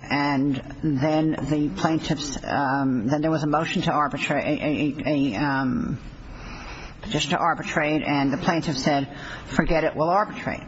and then the plaintiffs, then there was a motion to arbitrate, a petition to arbitrate and the plaintiffs said, forget it, we'll arbitrate.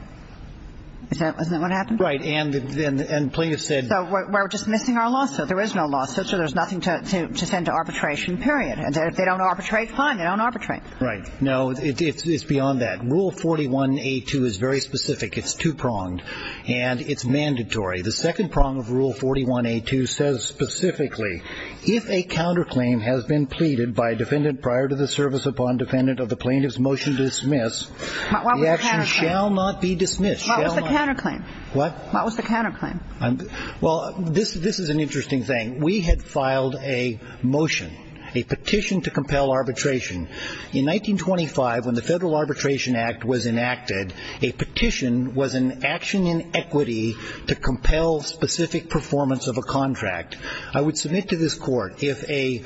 Isn't that what happened? Right, and plaintiffs said... So we're dismissing our lawsuit, there is no lawsuit, so there's nothing to send to arbitration, period. And if they don't arbitrate, fine, they don't arbitrate. Right, no, it's beyond that. Rule 41A2 is very specific, it's two-pronged and it's mandatory. The second prong of Rule 41A2 says specifically, if a counterclaim has been pleaded by a defendant prior to the service upon defendant of the plaintiff's motion to dismiss, the action shall not be dismissed. What was the counterclaim? What? What was the counterclaim? Well, this is an interesting thing. We had filed a motion, a petition to compel arbitration. In 1925, when the Federal Arbitration Act was enacted, a petition was an action in equity to compel specific performance of a contract. I would submit to this Court if a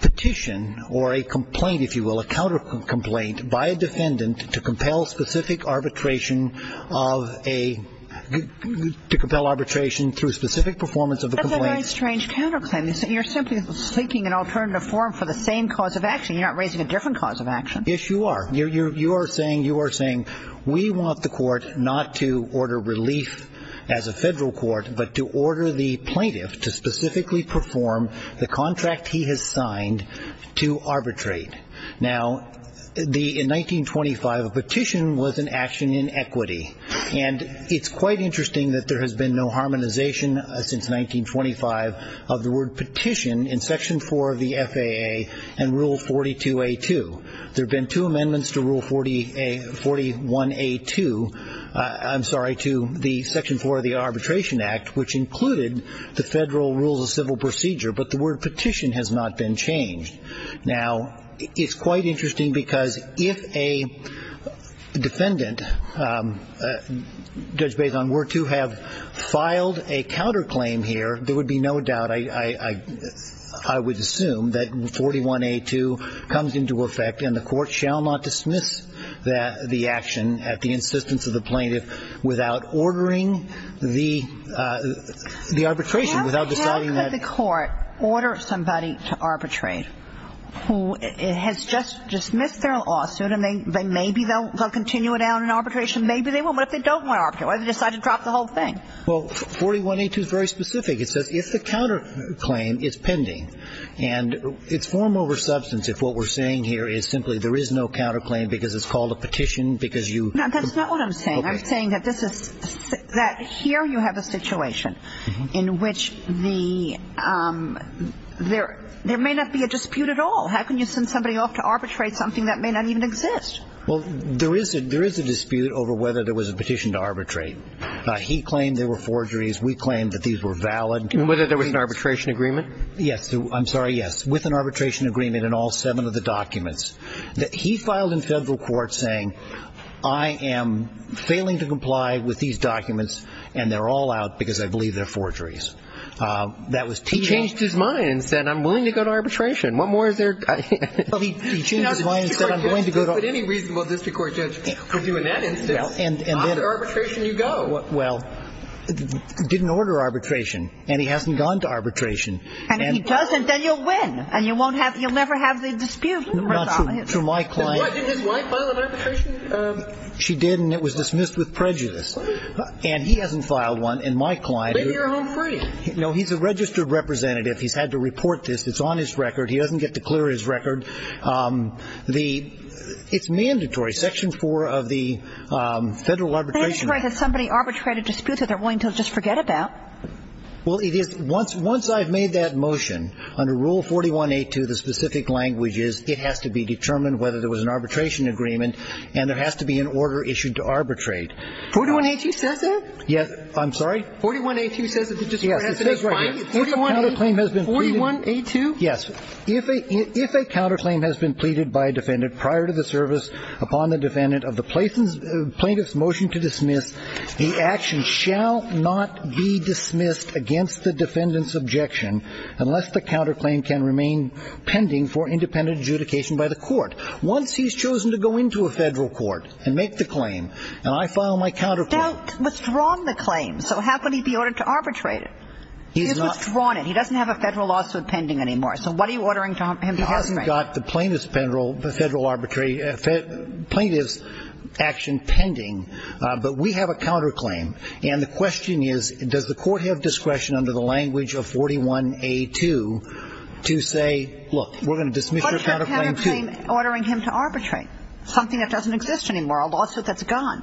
petition or a complaint, if you will, a counterclaim by a defendant to compel specific arbitration of a, to compel arbitration through specific performance of a complaint... That's a very strange counterclaim. You're simply seeking an alternative form for the same cause of action. You're not raising a different cause of action. Yes, you are. You are saying we want the Court not to order relief as a Federal Court, but to order the plaintiff to specifically perform the contract he has signed to arbitrate. Now, in 1925, a petition was an action in equity. And it's quite interesting that there has been no harmonization since 1925 of the word petition in Section 4 of the FAA and Rule 42A2. There have been two amendments to Rule 41A2. I'm sorry, to the Section 4 of the Arbitration Act, which included the Federal Rules of Civil Procedure, but the word petition has not been changed. Now, it's quite interesting because if a defendant, Judge Bason, were to have filed a counterclaim here, there would be no doubt, I would assume, that 41A2 comes into effect, and the Court shall not dismiss the action at the insistence of the plaintiff without ordering the arbitration, without deciding that... How could the Court order somebody to arbitrate who has just dismissed their lawsuit and maybe they'll continue it out in arbitration? Maybe they won't. What if they don't want to arbitrate? What if they decide to drop the whole thing? Well, 41A2 is very specific. It says if the counterclaim is pending, and it's form over substance if what we're saying here is simply there is no counterclaim because it's called a petition because you... No, that's not what I'm saying. I'm saying that here you have a situation in which there may not be a dispute at all. How can you send somebody off to arbitrate something that may not even exist? Well, there is a dispute over whether there was a petition to arbitrate. He claimed there were forgeries. We claimed that these were valid. And whether there was an arbitration agreement? Yes. I'm sorry, yes. With an arbitration agreement in all seven of the documents. He filed in federal court saying I am failing to comply with these documents and they're all out because I believe they're forgeries. He changed his mind and said I'm willing to go to arbitration. What more is there? He changed his mind and said I'm going to go to... Any reasonable district court judge could do in that instance. After arbitration, you go. Well, didn't order arbitration, and he hasn't gone to arbitration. And if he doesn't, then you'll win, and you'll never have the dispute. Not true. Why didn't his wife file an arbitration? She did, and it was dismissed with prejudice. And he hasn't filed one. And my client... Maybe you're home free. No, he's a registered representative. He's had to report this. It's on his record. He doesn't get to clear his record. It's mandatory. Section 4 of the Federal Arbitration Act... That's right. If somebody arbitrated disputes that they're willing to just forget about. Well, once I've made that motion, under Rule 41A2, the specific language is it has to be determined whether there was an arbitration agreement and there has to be an order issued to arbitrate. 41A2 says that? Yes. I'm sorry? 41A2 says it. Yes, it says right here. If a counterclaim has been pleaded... 41A2? Yes. If a counterclaim has been pleaded by a defendant prior to the service upon the defendant of the plaintiff's motion to dismiss, the action shall not be dismissed against the defendant's objection unless the counterclaim can remain pending for independent adjudication by the court. Once he's chosen to go into a federal court and make the claim, and I file my counterclaim... He's not withdrawn the claim, so how could he be ordered to arbitrate it? He's withdrawn it. He doesn't have a federal lawsuit pending anymore. So what are you ordering him to arbitrate? He's got the plaintiff's action pending, but we have a counterclaim. And the question is, does the Court have discretion under the language of 41A2 to say, look, we're going to dismiss your counterclaim, too? What's your counterclaim ordering him to arbitrate? Something that doesn't exist anymore, a lawsuit that's gone.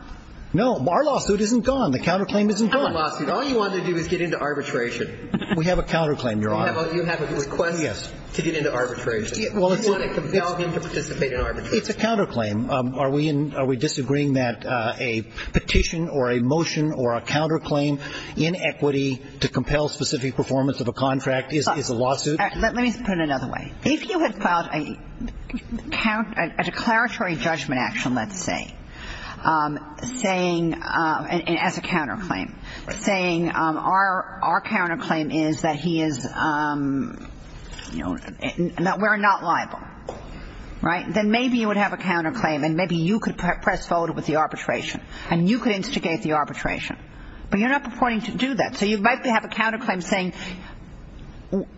No. Our lawsuit isn't gone. The counterclaim isn't gone. All you want to do is get into arbitration. We have a counterclaim, Your Honor. You have a request to get into arbitration. Do you want to compel him to participate in arbitration? It's a counterclaim. Are we in – are we disagreeing that a petition or a motion or a counterclaim in equity to compel specific performance of a contract is a lawsuit? Let me put it another way. If you had filed a declaratory judgment action, let's say, saying – as a counterclaim – saying our counterclaim is that he is, you know, that we're not liable, right, then maybe you would have a counterclaim, and maybe you could press forward with the arbitration, and you could instigate the arbitration. But you're not purporting to do that. So you might have a counterclaim saying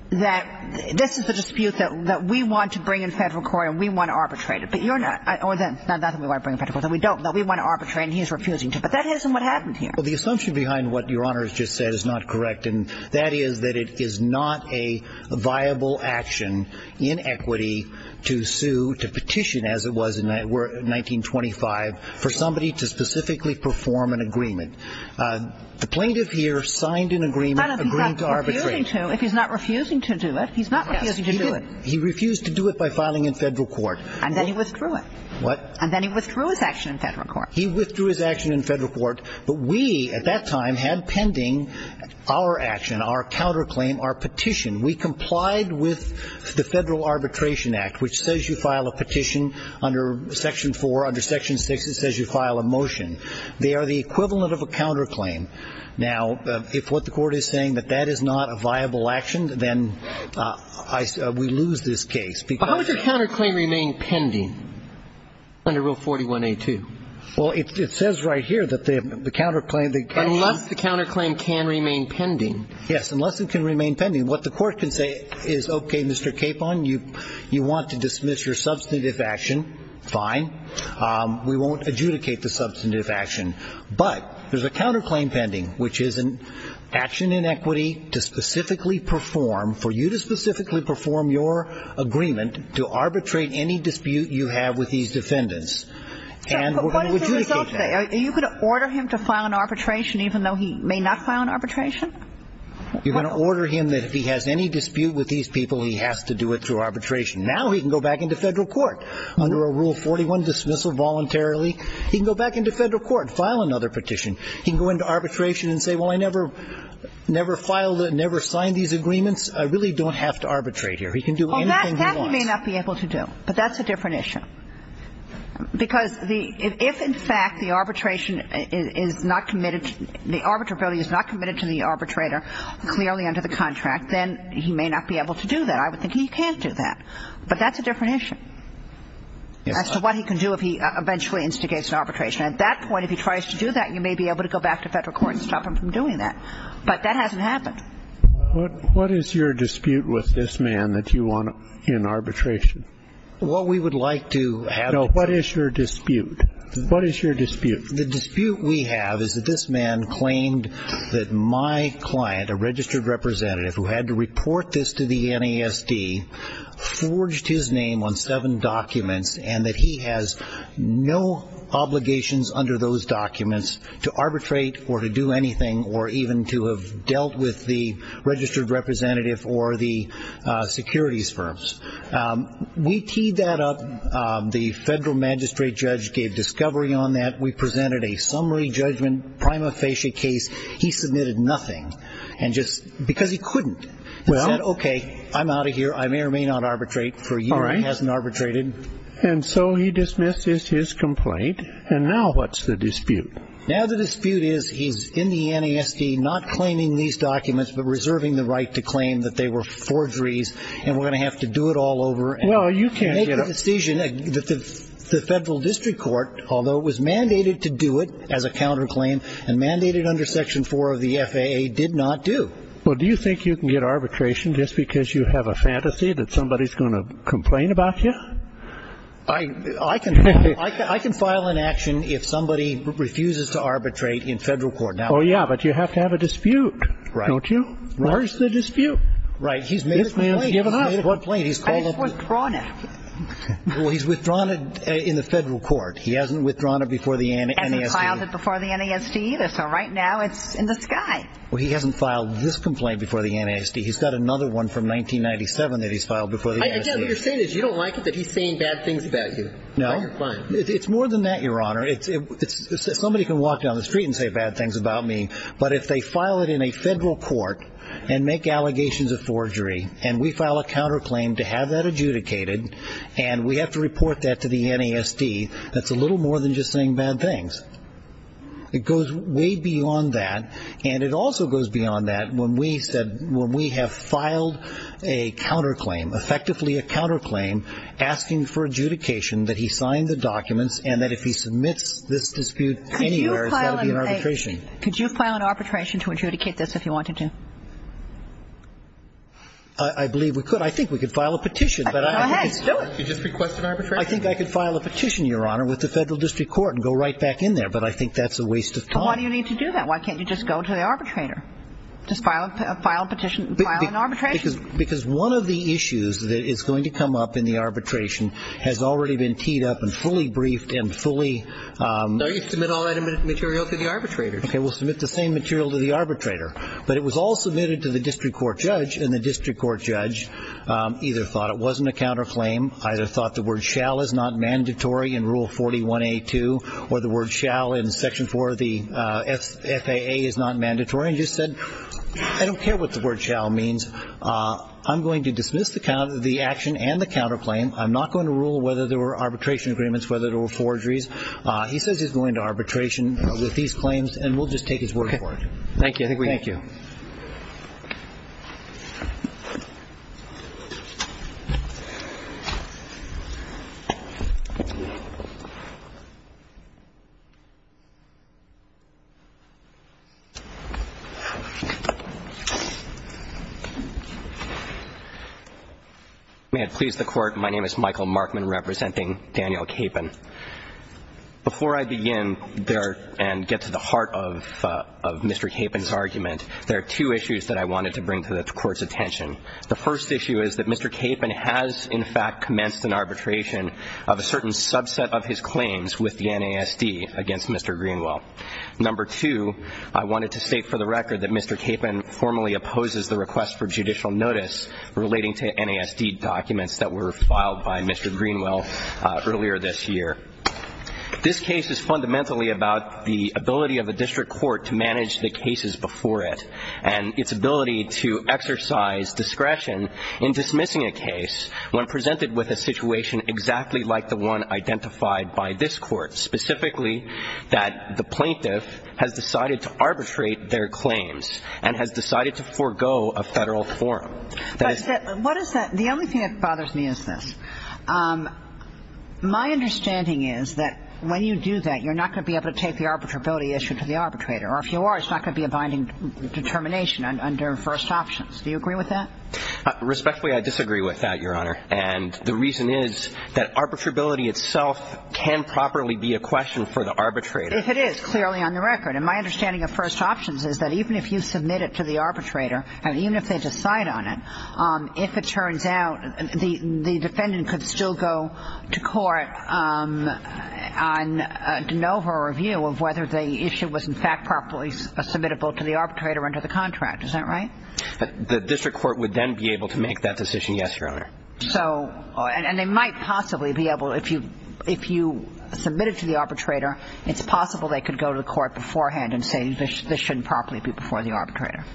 that this is the dispute that we want to bring in federal court and we want to arbitrate it. But you're not – or that's not the thing we want to bring in federal court, that we don't – that we want to arbitrate and he's refusing to. But that isn't what happened here. Well, the assumption behind what Your Honor has just said is not correct, and that is that it is not a viable action in equity to sue – to petition, as it was in 1925, for somebody to specifically perform an agreement. The plaintiff here signed an agreement agreeing to arbitrate. No, no, he's not refusing to. If he's not refusing to do it, he's not refusing to do it. Yes, he did. He refused to do it by filing in federal court. And then he withdrew it. What? And then he withdrew his action in federal court. He withdrew his action in federal court. But we, at that time, had pending our action, our counterclaim, our petition. We complied with the Federal Arbitration Act, which says you file a petition under Section 4. Under Section 6, it says you file a motion. They are the equivalent of a counterclaim. Now, if what the Court is saying that that is not a viable action, then we lose this case. But how would your counterclaim remain pending under Rule 41A2? Well, it says right here that the counterclaim, the action – Unless the counterclaim can remain pending. Yes, unless it can remain pending. What the Court can say is, okay, Mr. Capon, you want to dismiss your substantive action, fine. We won't adjudicate the substantive action. But there's a counterclaim pending, which is an action in equity to specifically perform – for you to specifically perform your agreement to arbitrate any dispute you have with these defendants. And we're going to adjudicate that. But what is the result of that? Are you going to order him to file an arbitration even though he may not file an arbitration? You're going to order him that if he has any dispute with these people, he has to do it through arbitration. Now he can go back into Federal court under a Rule 41, dismissal voluntarily. He can go back into Federal court, file another petition. He can go into arbitration and say, well, I never – never filed – never signed these agreements. I really don't have to arbitrate here. He can do anything he wants. Well, that he may not be able to do. But that's a different issue. Because the – if, in fact, the arbitration is not committed – the arbitrability is not committed to the arbitrator clearly under the contract, then he may not be able to do that. And I would think he can't do that. But that's a different issue as to what he can do if he eventually instigates an arbitration. At that point, if he tries to do that, you may be able to go back to Federal court and stop him from doing that. But that hasn't happened. What is your dispute with this man that you want in arbitration? What we would like to have – No, what is your dispute? What is your dispute? The dispute we have is that this man claimed that my client, a registered representative who had to report this to the NASD, forged his name on seven documents and that he has no obligations under those documents to arbitrate or to do anything or even to have dealt with the registered representative or the securities firms. We teed that up. The Federal magistrate judge gave discovery on that. We presented a summary judgment prima facie case. He submitted nothing because he couldn't. He said, okay, I'm out of here. I may or may not arbitrate for a year. He hasn't arbitrated. And so he dismisses his complaint. And now what's the dispute? Now the dispute is he's in the NASD not claiming these documents but reserving the right to claim that they were forgeries and we're going to have to do it all over. Well, you can't get up. And make the decision that the Federal District Court, although it was mandated to do it as a counterclaim and mandated under Section 4 of the FAA, did not do. Well, do you think you can get arbitration just because you have a fantasy that somebody's going to complain about you? I can file an action if somebody refuses to arbitrate in Federal court. Oh, yeah, but you have to have a dispute, don't you? Right. Where's the dispute? Right. He's made a complaint. He's made a complaint. I just withdrawn it. Well, he's withdrawn it in the Federal court. He hasn't withdrawn it before the NASD. So right now it's in the sky. Well, he hasn't filed this complaint before the NASD. He's got another one from 1997 that he's filed before the NASD. Again, what you're saying is you don't like it that he's saying bad things about you. No. Or you're fine. It's more than that, Your Honor. Somebody can walk down the street and say bad things about me, but if they file it in a Federal court and make allegations of forgery and we file a counterclaim to have that adjudicated and we have to report that to the NASD, that's a little more than just saying bad things. It goes way beyond that. And it also goes beyond that when we have filed a counterclaim, effectively a counterclaim asking for adjudication that he sign the documents and that if he submits this dispute anywhere, it's got to be an arbitration. Could you file an arbitration to adjudicate this if you wanted to? I believe we could. I think we could file a petition. Go ahead. Do it. You just request an arbitration? I think I could file a petition, Your Honor, with the Federal District Court and go right back in there, but I think that's a waste of time. Why do you need to do that? Why can't you just go to the arbitrator? Just file a petition, file an arbitration? Because one of the issues that is going to come up in the arbitration has already been teed up and fully briefed and fully... No, you submit all that material to the arbitrator. Okay, we'll submit the same material to the arbitrator. But it was all submitted to the District Court judge and the District Court judge either thought it wasn't a counterclaim, either thought the word shall is not mandatory in Rule 41A2 or the word shall in Section 4 of the FAA is not mandatory, and just said, I don't care what the word shall means. I'm going to dismiss the action and the counterclaim. I'm not going to rule whether there were arbitration agreements, whether there were forgeries. He says he's going to arbitration with these claims, and we'll just take his word for it. Thank you. May it please the Court. My name is Michael Markman representing Daniel Capon. Before I begin and get to the heart of Mr. Capon's argument, there are two issues that I wanted to bring to the Court's attention. The first issue is that Mr. Capon has in fact commenced an arbitration of a certain subset of his claims with the NASD against Mr. Greenwell. Number two, I wanted to state for the record that Mr. Capon formally opposes the request for judicial notice relating to NASD documents that were filed by Mr. Greenwell earlier this year. This case is fundamentally about the ability of the District Court to manage the cases before it and its ability to exercise discretion in dismissing a case when presented with a situation exactly like the one identified by this Court, specifically that the plaintiff has decided to arbitrate their claims and has decided to forego a Federal forum. The only thing that bothers me is this. My understanding is that when you do that, you're not going to be able to take the arbitrability issue to the arbitrator, or if you are, it's not going to be a binding determination under first options. Do you agree with that? Respectfully, I disagree with that, Your Honor. And the reason is that arbitrability itself can properly be a question for the arbitrator. If it is, clearly on the record. And my understanding of first options is that even if you submit it to the arbitrator and even if they decide on it, if it turns out the defendant could still go to court on a de novo review of whether the issue was, in fact, properly submittable to the arbitrator under the contract. Is that right? The District Court would then be able to make that decision, yes, Your Honor. And they might possibly be able, if you submit it to the arbitrator, it's possible they could go to the court beforehand and say this shouldn't properly be before the arbitrator.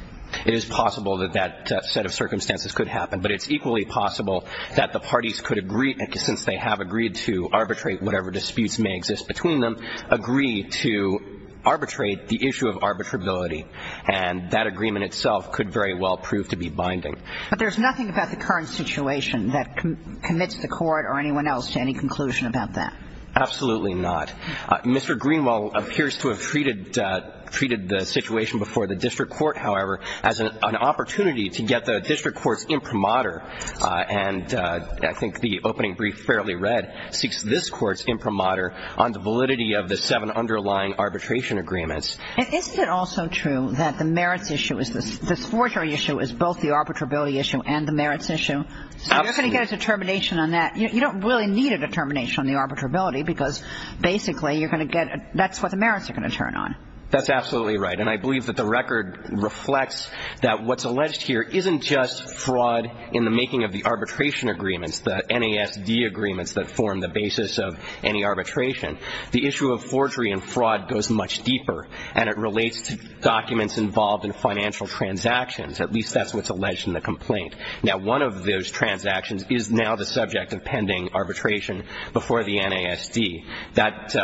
It is possible that that set of circumstances could happen, but it's equally possible that the parties could agree, since they have agreed to arbitrate whatever disputes may exist between them, agree to arbitrate the issue of arbitrability. And that agreement itself could very well prove to be binding. But there's nothing about the current situation that commits the court or anyone else to any conclusion about that. Absolutely not. Mr. Greenwell appears to have treated the situation before the District Court, however, as an opportunity to get the District Court's imprimatur, and I think the opening brief fairly read, seeks this Court's imprimatur on the validity of the seven underlying arbitration agreements. And isn't it also true that the merits issue is this forgery issue is both the arbitrability issue and the merits issue? Absolutely. So you're going to get a determination on that. You don't really need a determination on the arbitrability because basically you're going to get that's what the merits are going to turn on. That's absolutely right. And I believe that the record reflects that what's alleged here isn't just fraud in the making of the arbitration agreements, the NASD agreements that form the basis of any arbitration. The issue of forgery and fraud goes much deeper, and it relates to documents involved in financial transactions. At least that's what's alleged in the complaint. Now, one of those transactions is now the subject of pending arbitration before the NASD. That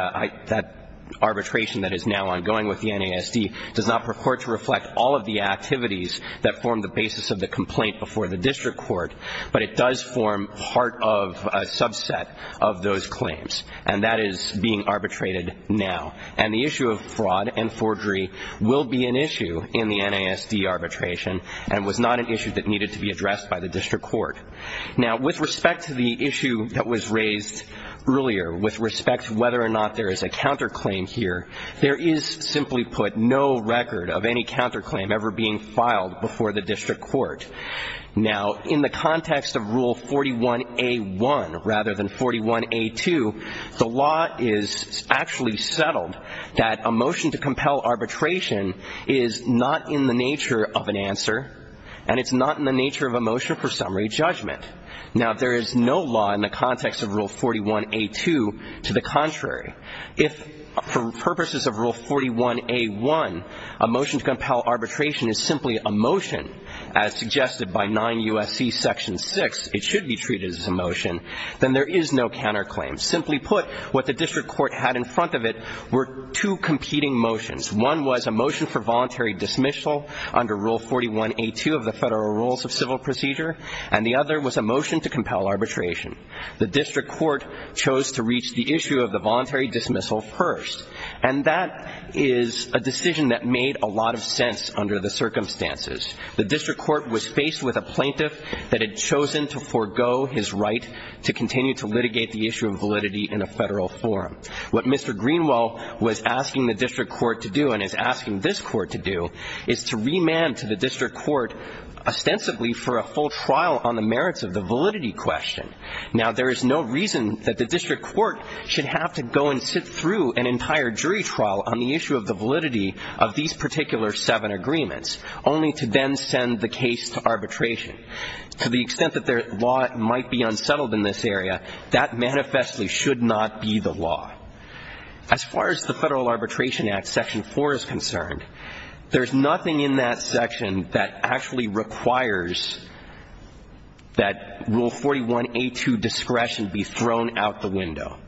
arbitration that is now ongoing with the NASD does not purport to reflect all of the activities that form the basis of the complaint before the district court, but it does form part of a subset of those claims. And that is being arbitrated now. And the issue of fraud and forgery will be an issue in the NASD arbitration and was not an issue that needed to be addressed by the district court. Now, with respect to the issue that was raised earlier, with respect to whether or not there is a counterclaim here, there is simply put no record of any counterclaim ever being filed before the district court. Now, in the context of Rule 41A1 rather than 41A2, the law is actually settled that a motion to compel arbitration is not in the nature of an answer and it's not in the nature of a motion for summary judgment. Now, there is no law in the context of Rule 41A2 to the contrary. If for purposes of Rule 41A1 a motion to compel arbitration is simply a motion, as suggested by 9 U.S.C. Section 6, it should be treated as a motion, then there is no counterclaim. Simply put, what the district court had in front of it were two competing motions. One was a motion for voluntary dismissal under Rule 41A2 of the Federal Rules of Civil Procedure and the other was a motion to compel arbitration. The district court chose to reach the issue of the voluntary dismissal first, and that is a decision that made a lot of sense under the circumstances. The district court was faced with a plaintiff that had chosen to forego his right to continue to litigate the issue of validity in a federal forum. What Mr. Greenwell was asking the district court to do and is asking this court to do is to remand to the district court ostensibly for a full trial on the merits of the validity question. Now, there is no reason that the district court should have to go and sit through an entire jury trial on the issue of the validity of these particular seven agreements, only to then send the case to arbitration. To the extent that their law might be unsettled in this area, that manifestly should not be the law. As far as the Federal Arbitration Act Section 4 is concerned, there is nothing in that section that actually requires that Rule 41A2 discretion be thrown out the window.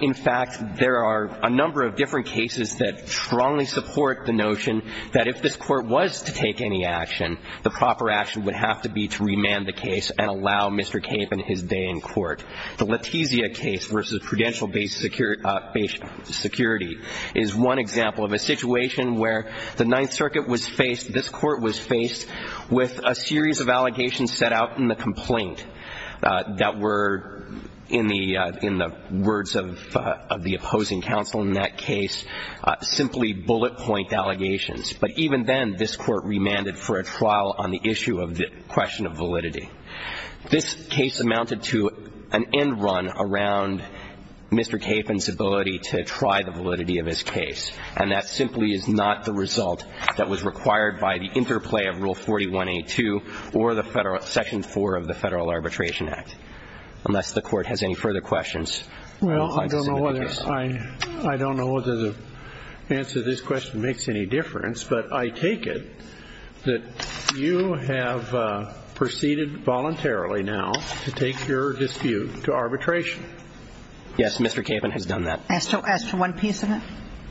In fact, there are a number of different cases that strongly support the notion that if this court was to take any action, the proper action would have to be to remand the case and allow Mr. Cape and his day in court. The Letizia case versus Prudential-based security is one example of a situation where the Ninth Circuit was faced, this court was faced with a series of allegations set out in the complaint that were, in the words of the opposing counsel in that case, simply bullet point allegations. But even then, this court remanded for a trial on the issue of the question of validity. This case amounted to an end run around Mr. Cape and his ability to try the validity of his case. And that simply is not the result that was required by the interplay of Rule 41A2 or the Federal Section 4 of the Federal Arbitration Act, unless the Court has any further questions. Well, I don't know whether the answer to this question makes any difference, but I take it that you have proceeded voluntarily now to take your dispute to arbitration. Yes, Mr. Cape has done that. As to one piece of it?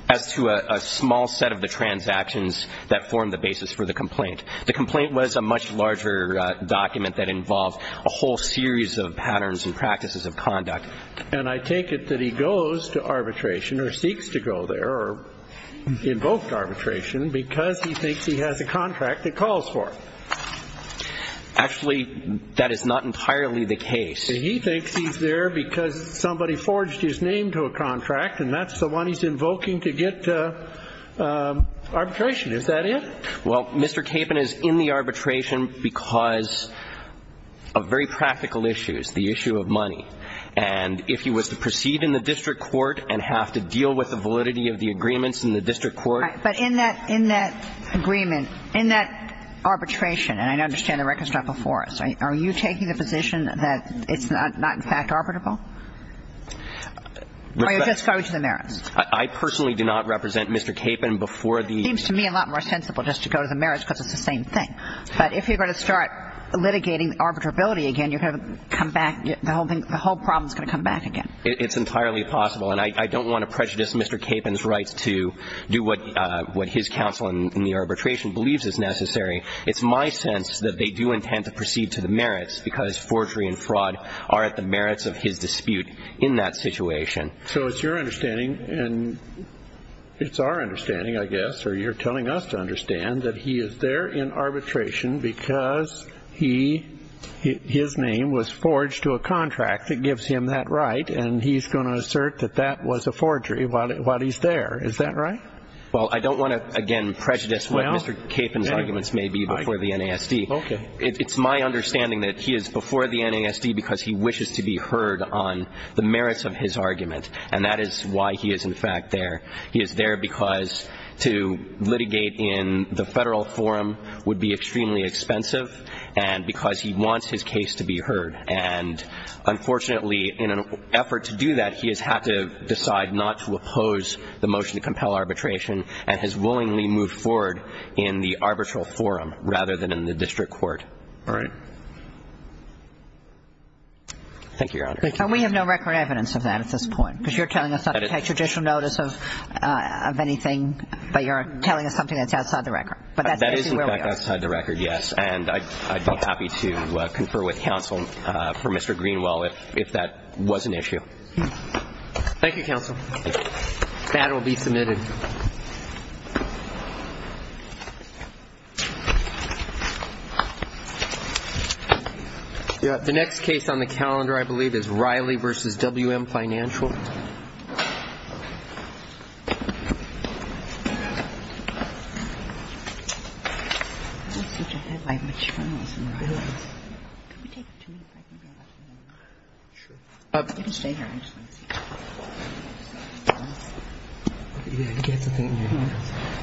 As to a small set of the transactions that form the basis for the complaint. The complaint was a much larger document that involved a whole series of patterns and practices of conduct. And I take it that he goes to arbitration or seeks to go there or invoked arbitration because he thinks he has a contract that calls for it. Actually, that is not entirely the case. He thinks he's there because somebody forged his name to a contract and that's the one he's invoking to get arbitration. Is that it? Well, Mr. Cape is in the arbitration because of very practical issues, the issue of arbitration. And if he was to proceed in the district court and have to deal with the validity of the agreements in the district court. But in that agreement, in that arbitration, and I understand the record's not before us, are you taking the position that it's not in fact arbitrable? Or you're just going to the merits? I personally do not represent Mr. Cape in before the ---- It seems to me a lot more sensible just to go to the merits because it's the same thing. But if you're going to start litigating arbitrability again, you're going to come back, the whole problem is going to come back again. It's entirely possible. And I don't want to prejudice Mr. Cape in his rights to do what his counsel in the arbitration believes is necessary. It's my sense that they do intend to proceed to the merits because forgery and fraud are at the merits of his dispute in that situation. So it's your understanding and it's our understanding, I guess, or you're telling us to understand that he is there in arbitration because he, his name was forged to a contract that gives him that right and he's going to assert that that was a forgery while he's there. Is that right? Well, I don't want to, again, prejudice what Mr. Cape and his arguments may be before the NASD. Okay. It's my understanding that he is before the NASD because he wishes to be heard on the merits of his argument. And that is why he is in fact there. He is there because to litigate in the Federal forum would be extremely expensive and because he wants his case to be heard. And unfortunately, in an effort to do that, he has had to decide not to oppose the motion to compel arbitration and has willingly moved forward in the arbitral forum rather than in the district court. All right. Thank you, Your Honor. Thank you. And we have no record evidence of that at this point because you're telling us that you don't take judicial notice of anything, but you're telling us something that's outside the record. But that's actually where we are. That is, in fact, outside the record, yes. And I'd be happy to confer with counsel for Mr. Greenwell if that was an issue. Thank you, counsel. That will be submitted. The next case on the calendar, I believe, is Riley v. W.M. Financial.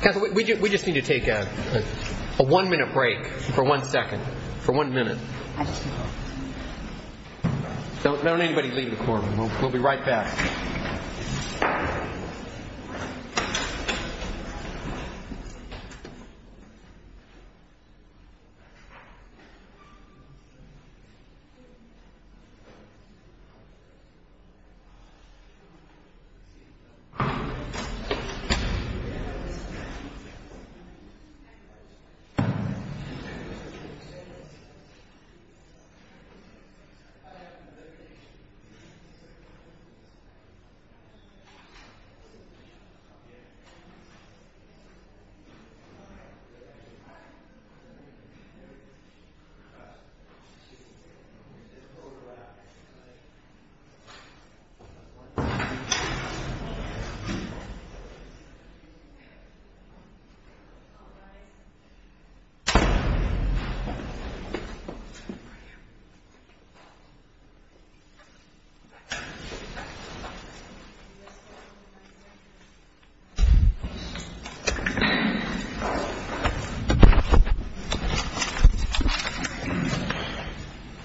Counsel, we just need to take a one-minute break for one second, for one minute. Don't let anybody leave the courtroom. We'll be right back.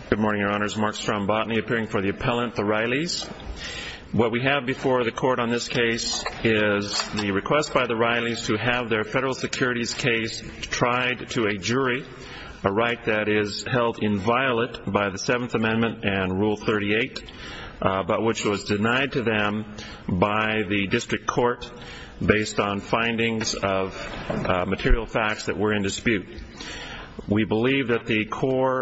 Good morning, Your Honors. Mark Strombotny, appearing for the appellant, the Rileys. What we have before the Court on this case is the request by the Rileys to have their federal securities case tried to a jury, a right that is held inviolate by the Seventh Amendment and Rule 38, but which was denied to them by the district court based on findings of material facts that were in dispute. We believe that the core...